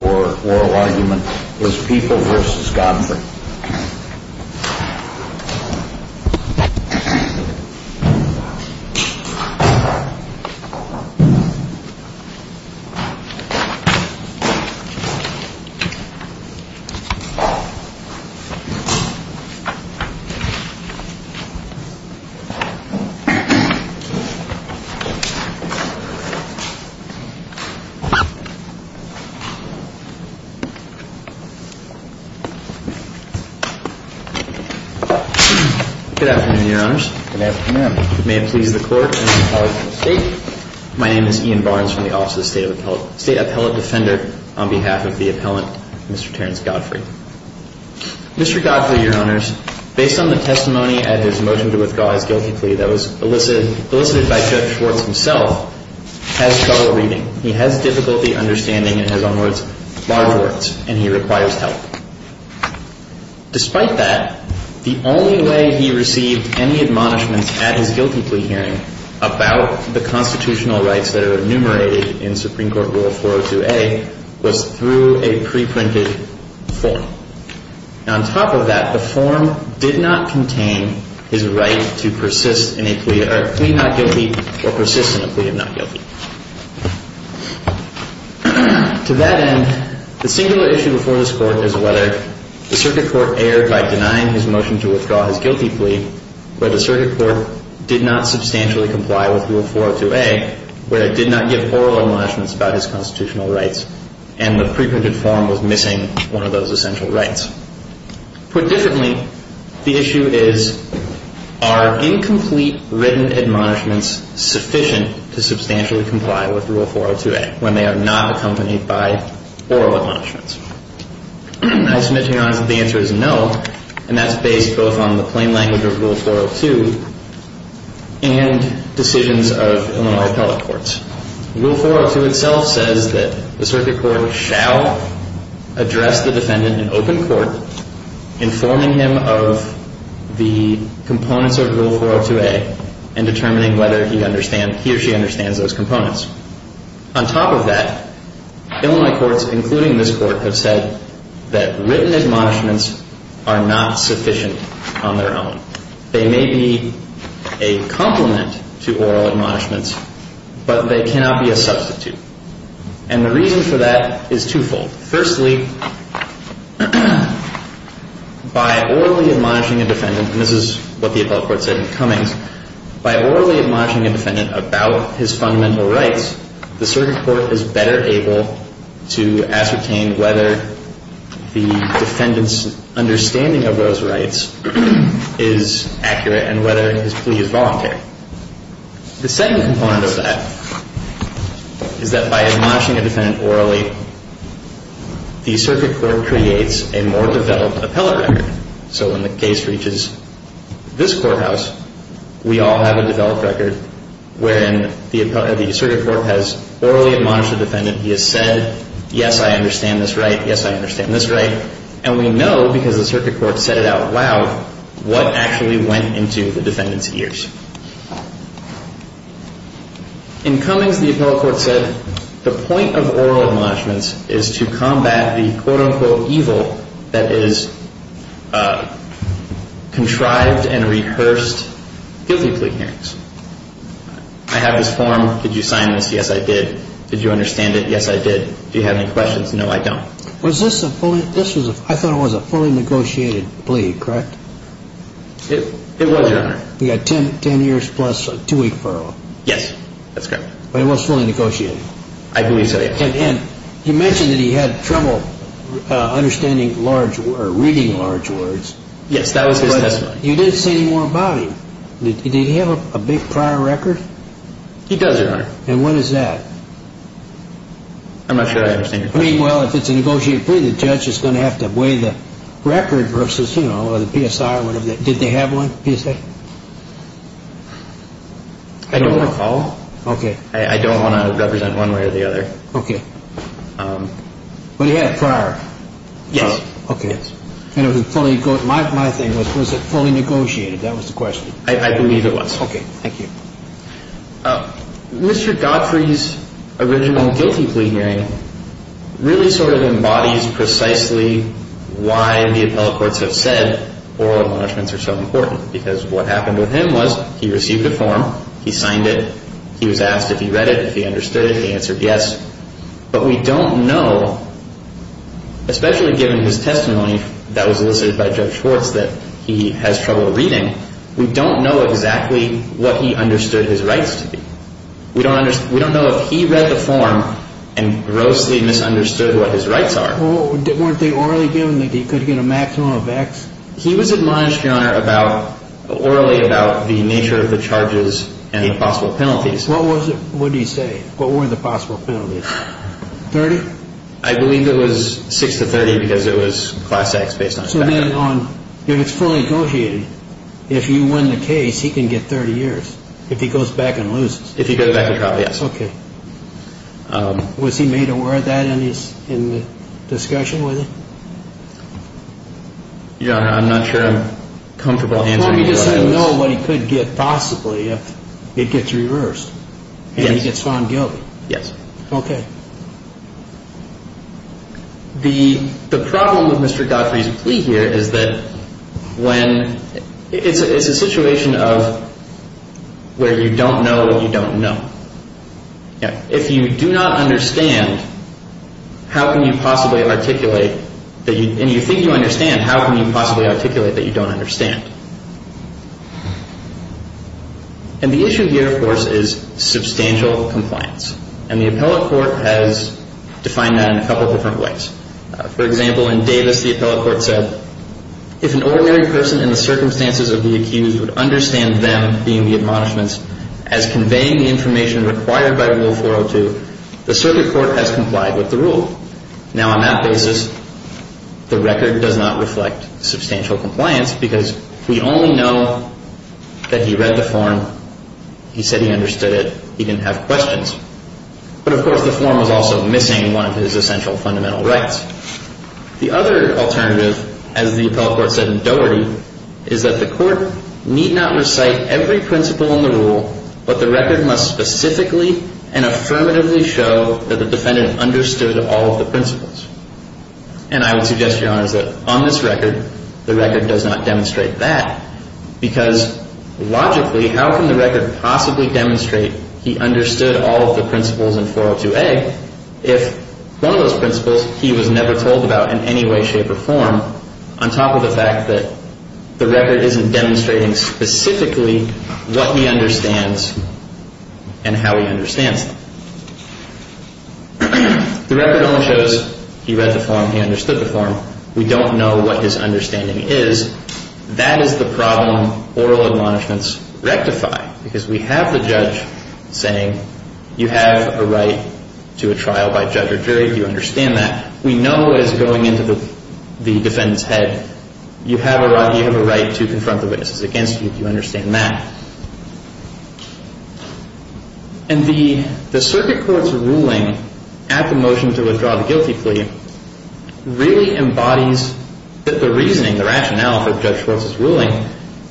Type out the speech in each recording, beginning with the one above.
or oral argument was People v. Godfrey. Mr. Godfrey, your honors, based on the testimony and his motion to withdraw his guilty plea that was elicited by Judge Schwartz himself, has trouble reading. He has difficulty understanding his own words, bar words, and he requires help. Despite that, the only way he received any admonishments at his guilty plea hearing about the constitutional rights that are enumerated in Supreme Court Rule 402A was through a preprinted form. On top of that, the form did not contain his right to persist in a plea not guilty or persist in a plea of not guilty. To that end, the singular issue before this Court is whether the Circuit Court erred by denying his motion to withdraw his guilty plea, whether the Circuit Court did not substantially comply with Rule 402A, whether it did not give oral admonishments about his constitutional rights, and the preprinted form was missing one of those essential rights. Put differently, the issue is, are incomplete written admonishments sufficient to substantially comply with Rule 402A when they are not accompanied by oral admonishments? I submit to Your Honor that the answer is no, and that's based both on the plain language of Rule 402 and decisions of Illinois appellate courts. Rule 402 itself says that the Circuit Court shall address the defendant in open court, informing him of the components of Rule 402A and determining whether he or she understands those components. On top of that, Illinois courts, including this Court, have said that written admonishments are not sufficient on their own. They may be a complement to oral admonishments, but they cannot be a substitute. And the reason for that is twofold. Firstly, by orally admonishing a defendant about his fundamental rights, the Circuit Court is better able to ascertain whether the defendant's understanding of those rights is accurate and whether his plea is voluntary. The second component of that is that by admonishing a defendant orally, the Circuit Court creates a more developed appellate record. So when the case reaches this courthouse, we all have a developed record wherein the Circuit Court has orally admonished the defendant. He has said, yes, I understand this right. Yes, I understand this right. And we know, because the Circuit Court said it out loud, what actually went into the defendant's ears. In Cummings, the appellate court said the point of oral admonishments is to combat the quote-unquote evil that is contrived and rehearsed guilty plea hearings. I have this form. Did you sign this? Yes, I did. Did you understand it? Yes, I did. Do you have any questions? No, I don't. Was this a fully, this was a, I thought it was a fully negotiated plea, correct? It was, Your Honor. You got 10 years plus a two-week parole. Yes, that's correct. But it was fully negotiated? I believe so, yes. And you mentioned that he had trouble understanding large, or reading large words. Yes, that was his testimony. You didn't say any more about him. Did he have a big prior record? He does, Your Honor. And what is that? I'm not sure I understand your question. I mean, well, if it's a negotiated plea, the judge is going to have to weigh the record versus, you know, the PSI or whatever. Did they have one, PSI? I don't recall. Okay. I don't want to represent one way or the other. Okay. But he had a prior? Yes. Okay. And it was a fully, my thing was, was it fully negotiated? That was the question. I believe it was. Okay, thank you. Mr. Godfrey's original guilty plea hearing really sort of embodies precisely why the appellate courts have said oral enlargements are so important. Because what happened with him was, he received a form, he signed it, he was asked if he read it, if he understood it, he answered yes. But we don't know, especially given his testimony that was elicited by Judge Schwartz that he has trouble reading, we don't know exactly what he understood his rights to be. We don't know if he read the form and grossly misunderstood what his rights are. Weren't they orally given that he could get a maximum of X? He was admonished, Your Honor, orally about the nature of the charges and the possible penalties. What was it, what did he say? What were the possible penalties? 30? I believe it was 6 to 30 because it was class X based on his background. So then on, if it's fully negotiated, if you win the case, he can get 30 years. If he goes back and loses. If he goes back to trial, yes. Okay. Was he made aware of that in the discussion with him? Your Honor, I'm not sure I'm comfortable answering your questions. Does he know what he could get possibly if it gets reversed and he gets found guilty? Yes. Okay. The problem with Mr. Gottfried's plea here is that when, it's a situation of where you don't know what you don't know. If you do not understand, how can you possibly articulate that you, and you think you understand, how can you possibly articulate that you don't understand? And the issue here, of course, is substantial compliance. And the appellate court has defined that in a couple different ways. For example, in Davis, the appellate court said, if an ordinary person in the circumstances of the accused would understand them being the admonishments as conveying the information required by Rule 402, the circuit court has complied with the rule. Now on that basis, the record does not reflect substantial compliance because we only know that he read the form, he said he understood it, he didn't have questions. But of course, the form was also missing one of his essential fundamental rights. The other alternative, as the appellate court said in Dougherty, is that the court need not recite every principle in the rule, but the record must specifically and affirmatively show that the defendant understood all of the principles. And I would suggest, Your Honors, that on this record, the record does not demonstrate that because logically, how can the record possibly demonstrate he understood all of the principles in 402A if one of those principles he was never told about in any way, shape, or form on top of the fact that the record isn't demonstrating specifically what he understands and how he understands them. The record only shows he read the form, he understood the form. We don't know what his understanding is. That is the problem oral admonishments rectify because we have the judge saying, you have a right to a trial by judge or jury, do you understand that? We know as going into the defendant's head, you have a right to confront the witnesses against you, do you understand that? And the circuit court's ruling at the motion to withdraw the guilty plea really embodies the reasoning, the rationale for Judge Schwartz's ruling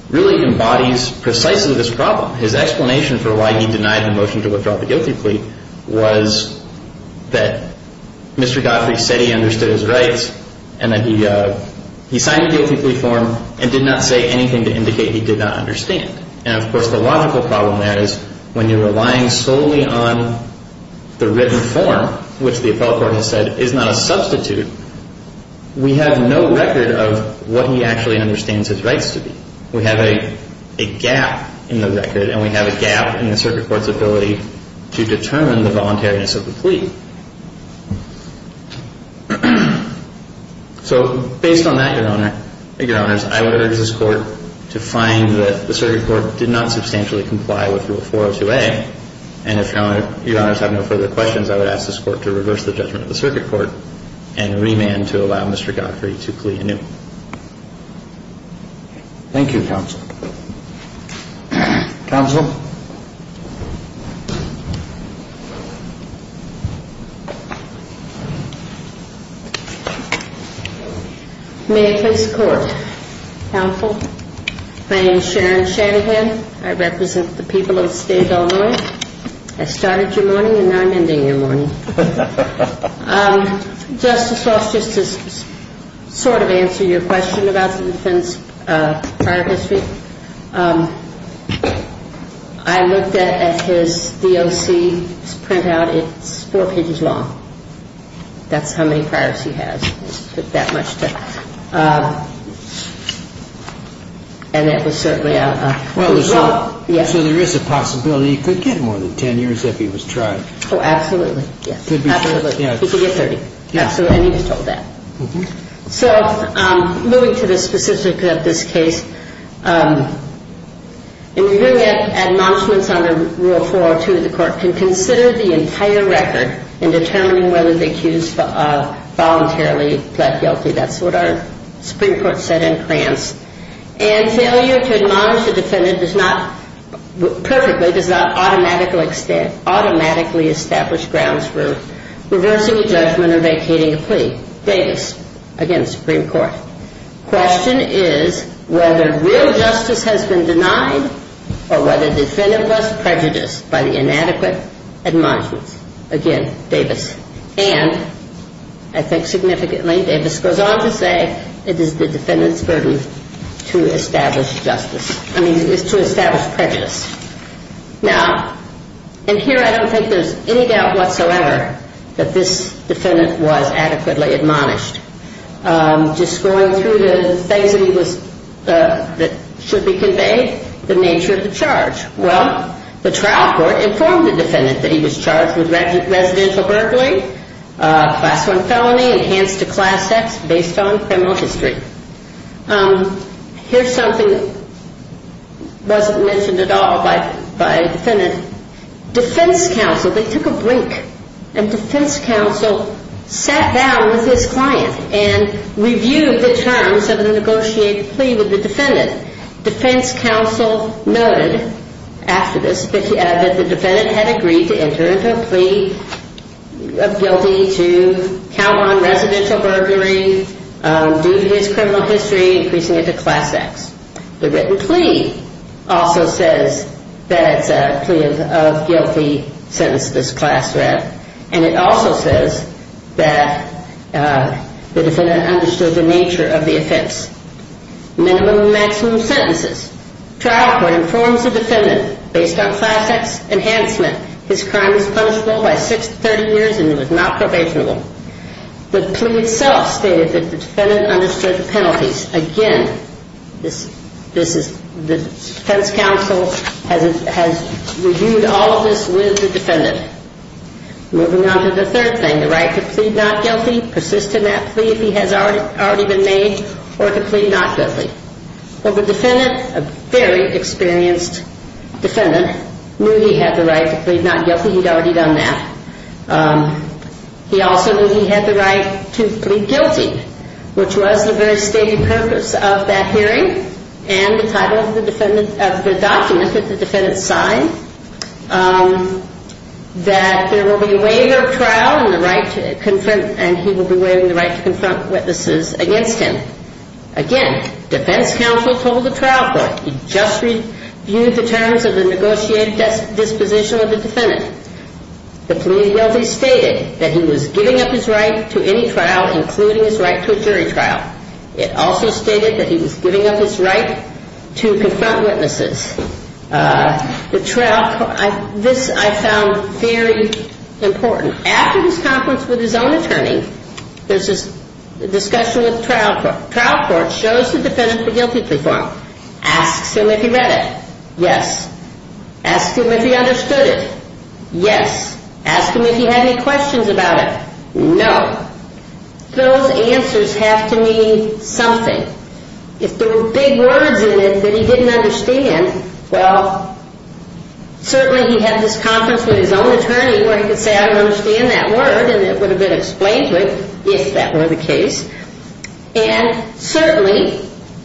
really embodies precisely this problem. His explanation for why he denied the motion to withdraw the guilty plea was that Mr. Godfrey said he understood his rights and that he signed the guilty plea form and did not say anything to indicate he did not understand. And of course, the logical problem there is when you're relying solely on the written form which the appellate court has said is not a substitute, we have no record of what he actually understands his rights to be. We have a gap in the record and we have a gap in the circuit court's ability to determine the voluntariness of the plea. So based on that, Your Honors, I would urge this court to find that the circuit court did not substantially comply with Rule 402A and if Your Honors have no further questions I would ask this court to reverse the judgment of the circuit court and remand to allow Mr. Godfrey to plea anew. Thank you, Counsel. Counsel? May I please the Court? Counsel? My name is Sharon Shanahan. I represent the people of the state of Illinois. I started your morning and now I'm ending your morning. Justice Ross, just to sort of answer your question I think it's important to understand that the defense prior history I looked at his DOC printout it's four pages long. That's how many priors he has. That much to... And that was certainly a... So there is a possibility he could get more than 10 years if he was tried. Oh, absolutely. He could get 30. And he was told that. So moving to the specifics of this case In reviewing it admonishments under Rule 402 of the court can consider the entire record in determining whether the accused voluntarily pled guilty. That's what our Supreme Court said in France. And failure to admonish the defendant does not perfectly does not automatically establish grounds for reversing a judgment or vacating a plea. Vegas against the Supreme Court. The question is whether real justice has been denied or whether the defendant was prejudiced by the inadequate admonishments. Again, Davis. And I think significantly Davis goes on to say it is the defendant's burden to establish prejudice. Now in here I don't think there's any doubt whatsoever that this defendant was adequately admonished. Just going through the things that he was that should be conveyed the nature of the charge. Well, the trial court informed the defendant that he was charged with residential burglary class 1 felony enhanced to class X based on criminal history. Here's something that wasn't mentioned at all by the defendant defense counsel, they took a break and defense counsel sat down with this client and reviewed the terms of the negotiated plea with the defendant defense counsel noted after this that the defendant had agreed to enter into a plea of guilty to count on residential burglary due to his criminal history increasing it to class X. The written plea also says that it's a plea of guilty since this class and it also says that the defendant understood the nature of the offense minimum and maximum sentences. Trial court informs the defendant based on class X enhancement his crime was punishable by 6 to 30 years and was not probationable. The plea itself stated that the defendant understood the penalties. Again this is the defense counsel has reviewed all of this with the defendant. Moving on to the third thing the right to plead not guilty persist in that plea if he has already been made or to plead not guilty the defendant, a very experienced defendant knew he had the right to plead not guilty he'd already done that he also knew he had the right to plead guilty which was the very stating purpose of that hearing and the title of the document that the defendant signed that there will be a waiver of trial and he will be waiving the right to confront witnesses against him again defense counsel told the trial court he just reviewed the terms of the negotiated disposition of the defendant the plea of guilty stated that he was giving up his right to any trial including his right to a jury trial. It also stated that he was giving up his right to confront witnesses the trial court this I found very important. After this conference with his own attorney there's this discussion with the trial court trial court shows the defendant the guilty plea form asks him if he read it yes asks him if he understood it yes asks him if he had any questions about it no. Those answers have to mean something if there were big words in it that he didn't understand well certainly he had this conference with his own attorney where he could say I don't understand that word and it would have been explained to him if that were the case and certainly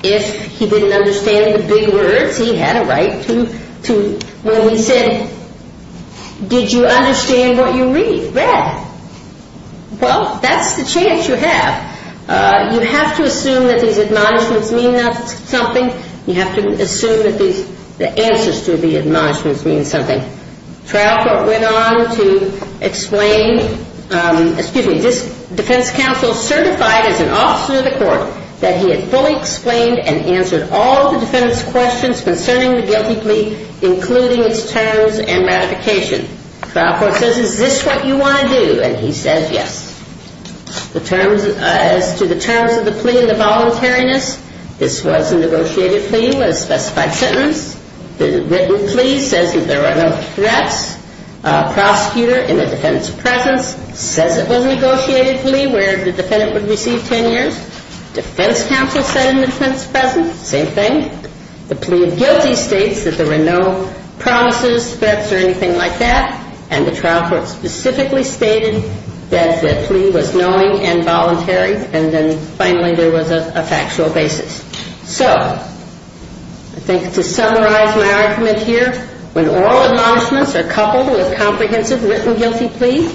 if he didn't understand the big words he had a right to when he said did you understand what you read well that's the chance you have you have to assume that these admonishments mean something you have to assume that the answers to the admonishments mean something trial court went on to explain excuse me defense counsel certified as an officer of the court that he had fully explained and answered all the defendant's questions concerning the guilty plea including its terms and ratification trial court says is this what you want to do and he says yes as to the terms of the plea and the voluntariness this was a negotiated plea with a specified sentence the written plea says that there were no threats prosecutor in the defendant's presence says it was a negotiated plea where the defendant would receive 10 years defense counsel said in the defendant's presence same thing the plea of guilty states that there were no promises, threats or anything like that and the trial court specifically stated that the plea was knowing and voluntary and then finally there was a factual basis so I think to summarize my argument here, when all admonishments are coupled with comprehensive written guilty plea,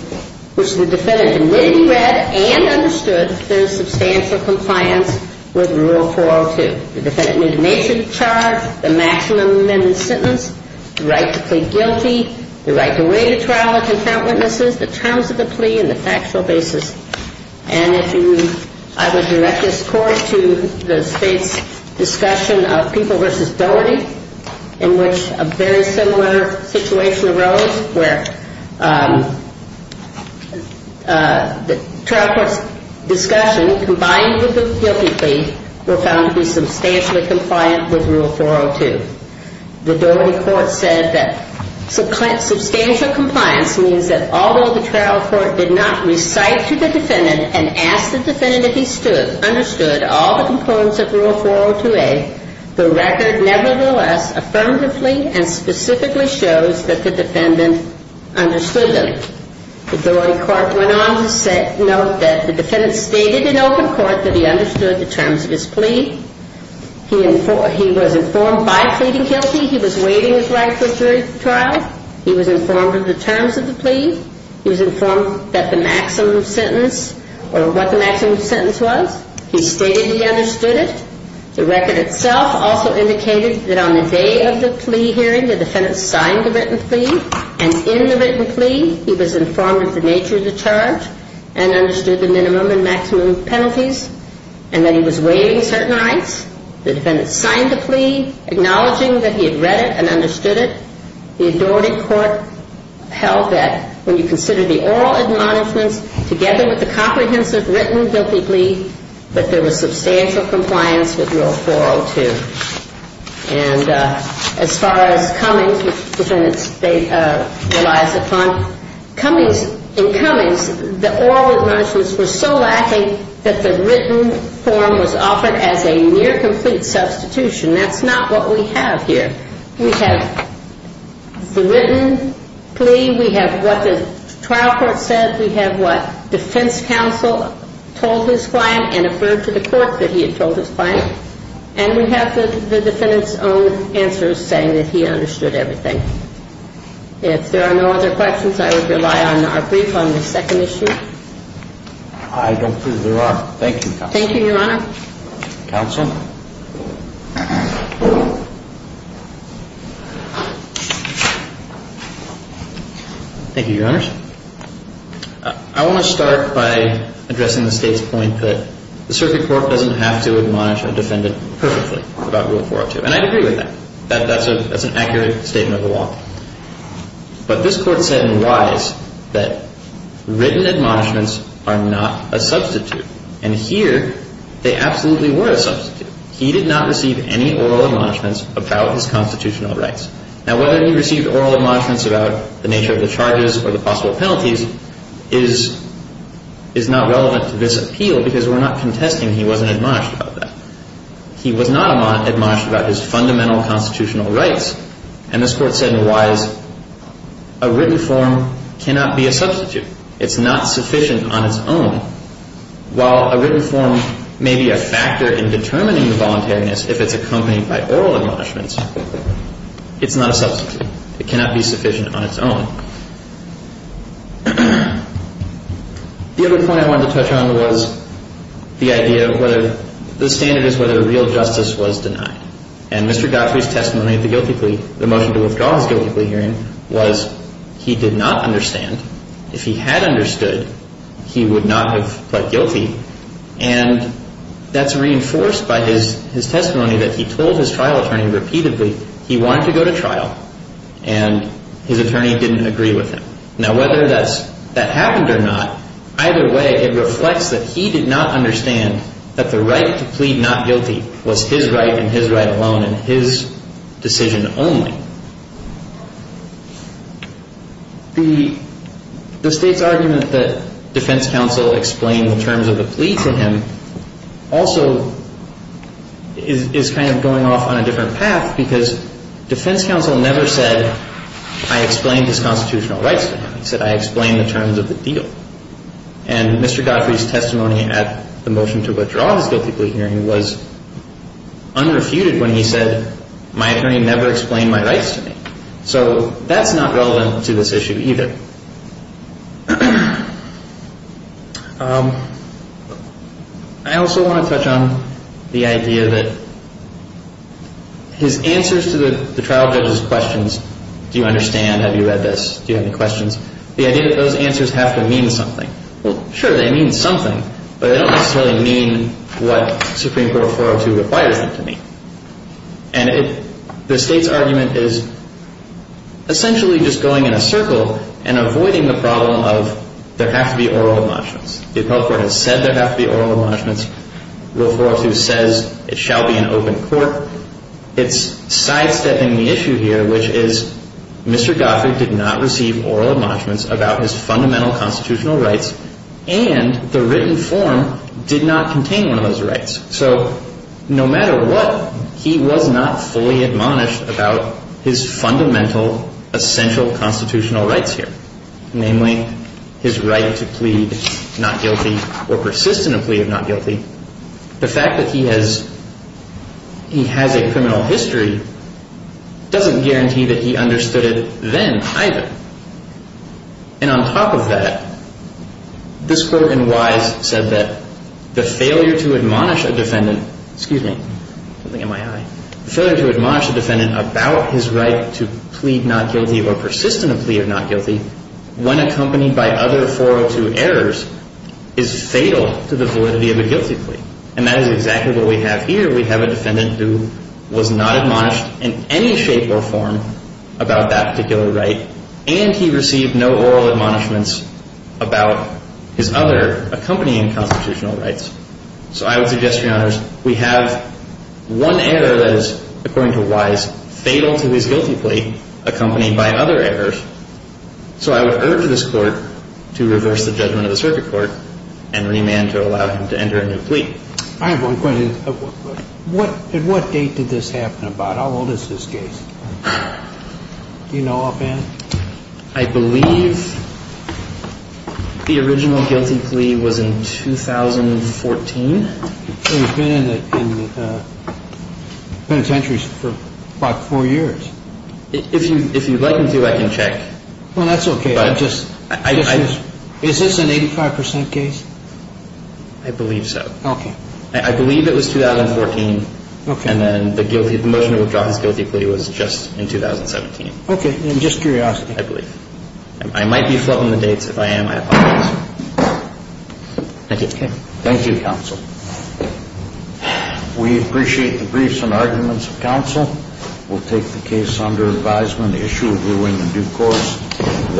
which the defendant admittedly read and understood there is substantial compliance with rule 402 the defendant made a nation charge the maximum sentence the right to plead guilty the right to wait a trial the terms of the plea and the factual basis and if you, I would direct this court to the state's discussion of people versus doherty in which a very similar situation arose where the trial court's discussion combined with the guilty plea were found to be substantially compliant with rule 402 the doherty court said that substantial compliance means that although the trial court did not recite to the defendant and ask the defendant if he understood all the components of rule 402a the record nevertheless affirmatively and specifically shows that the defendant understood them the doherty court went on to note that the defendant stated in open court that he understood the terms of his plea he was informed by pleading guilty he was waiting his right to a jury trial he was informed of the terms of the plea he was informed that the maximum sentence, or what the maximum sentence was, he stated he understood it, the record itself also indicated that on the day of the plea hearing the defendant signed the written plea and in the written plea he was informed of the nature of the charge and understood the minimum and maximum penalties and that he was waiting certain rights the defendant signed the plea acknowledging that he had read it and understood it, the doherty court held that when you consider the oral admonishments together with the comprehensive written guilty plea, that there was substantial compliance with rule 402 and as far as Cummings which the defendant relies upon, Cummings in Cummings the oral admonishments were so lacking that the written form was offered as a near complete substitution, that's not what we have here we have the written plea, we have what the trial court said, we have what defense counsel told his client and affirmed to the court that he had told his client and we have the defendant's own answer saying that he understood everything if there are no other questions I would rely on our brief on the second issue I don't think there are, thank you thank you your honor counsel thank you your honors I want to start by addressing the state's point that the circuit court doesn't have to admonish a defendant perfectly about rule 402 and I agree with that, that's an accurate statement of the law but this court said in Wise that written admonishments are not a substitute and here they absolutely were a substitute, he did not receive any oral admonishments about his constitutional rights, now whether he received oral admonishments about the nature of the charges or the possible penalties is not relevant to this appeal because we're not contesting he wasn't admonished about that he was not admonished about his fundamental constitutional rights and this court said in Wise a written form cannot be a substitute, it's not sufficient on its own while a written form may be a factor in determining the voluntariness if it's accompanied by oral admonishments it's not a substitute it cannot be sufficient on its own the other point I wanted to touch on was the idea of whether the standard is whether a real justice was denied and Mr. Godfrey's testimony of the guilty plea, the motion to withdraw his guilty plea hearing was he did not understand if he had understood he would not have pled guilty and that's reinforced by his testimony that he told his trial attorney repeatedly he wanted to go to trial and his attorney didn't agree with him now whether that happened or not either way it reflects that he did not understand that the right to plead not guilty was his right and his right alone and his the state's argument that defense counsel explained the terms of the plea to him also is kind of going off on a different path because defense counsel never said I explained this constitutional rights to him, he said I explained the terms of the deal and Mr. Godfrey's testimony at the motion to withdraw his guilty plea hearing was unrefuted when he said my attorney never explained my rights to me so that's not relevant to this issue either I also want to touch on the idea that his answers to the trial judge's questions do you understand, have you read this, do you have any questions the idea that those answers have to mean something, well sure they mean something but they don't necessarily mean what Supreme Court 402 requires them to mean and the state's argument is essentially just going in a circle and avoiding the problem of there have to be oral admonishments the appellate court has said there have to be oral admonishments rule 402 says it shall be an open court it's sidestepping the issue here which is Mr. Godfrey did not receive oral admonishments about his fundamental constitutional rights and the written form did not contain one of those rights so no matter what he was not fully admonished about his fundamental essential constitutional rights here, namely his right to plead not guilty or persist in a plea of not guilty the fact that he has he has a criminal history doesn't guarantee that he understood it then either and on top of that this court in Wise said that the failure to admonish a defendant excuse me, something in my eye the failure to admonish a defendant about his right to plead not guilty or persist in a plea of not guilty when accompanied by other 402 errors is fatal to the validity of a guilty plea and that is exactly what we have here we have a defendant who was not admonished in any shape or form about that particular right and he received no oral admonishments about his other accompanying constitutional rights so I would suggest, your honors, we have one error that is according to Wise, fatal to his guilty plea accompanied by other errors so I would urge this court to reverse the judgment of the circuit court and remand to allow him to enter a new plea I have one question. At what date did this happen about? How old is this case? Do you know offhand? I believe the original guilty plea was in 2014 so he's been in penitentiary for about 4 years if you'd like me to, I can check well that's ok is this an 85% case? I believe so I believe it was 2014 and then the motion to withdraw his guilty plea was just in 2017 just curiosity I believe I might be flubbing the dates, if I am, I apologize thank you thank you counsel we appreciate the briefs and arguments of counsel we'll take the case under advisement the issue will be in the due course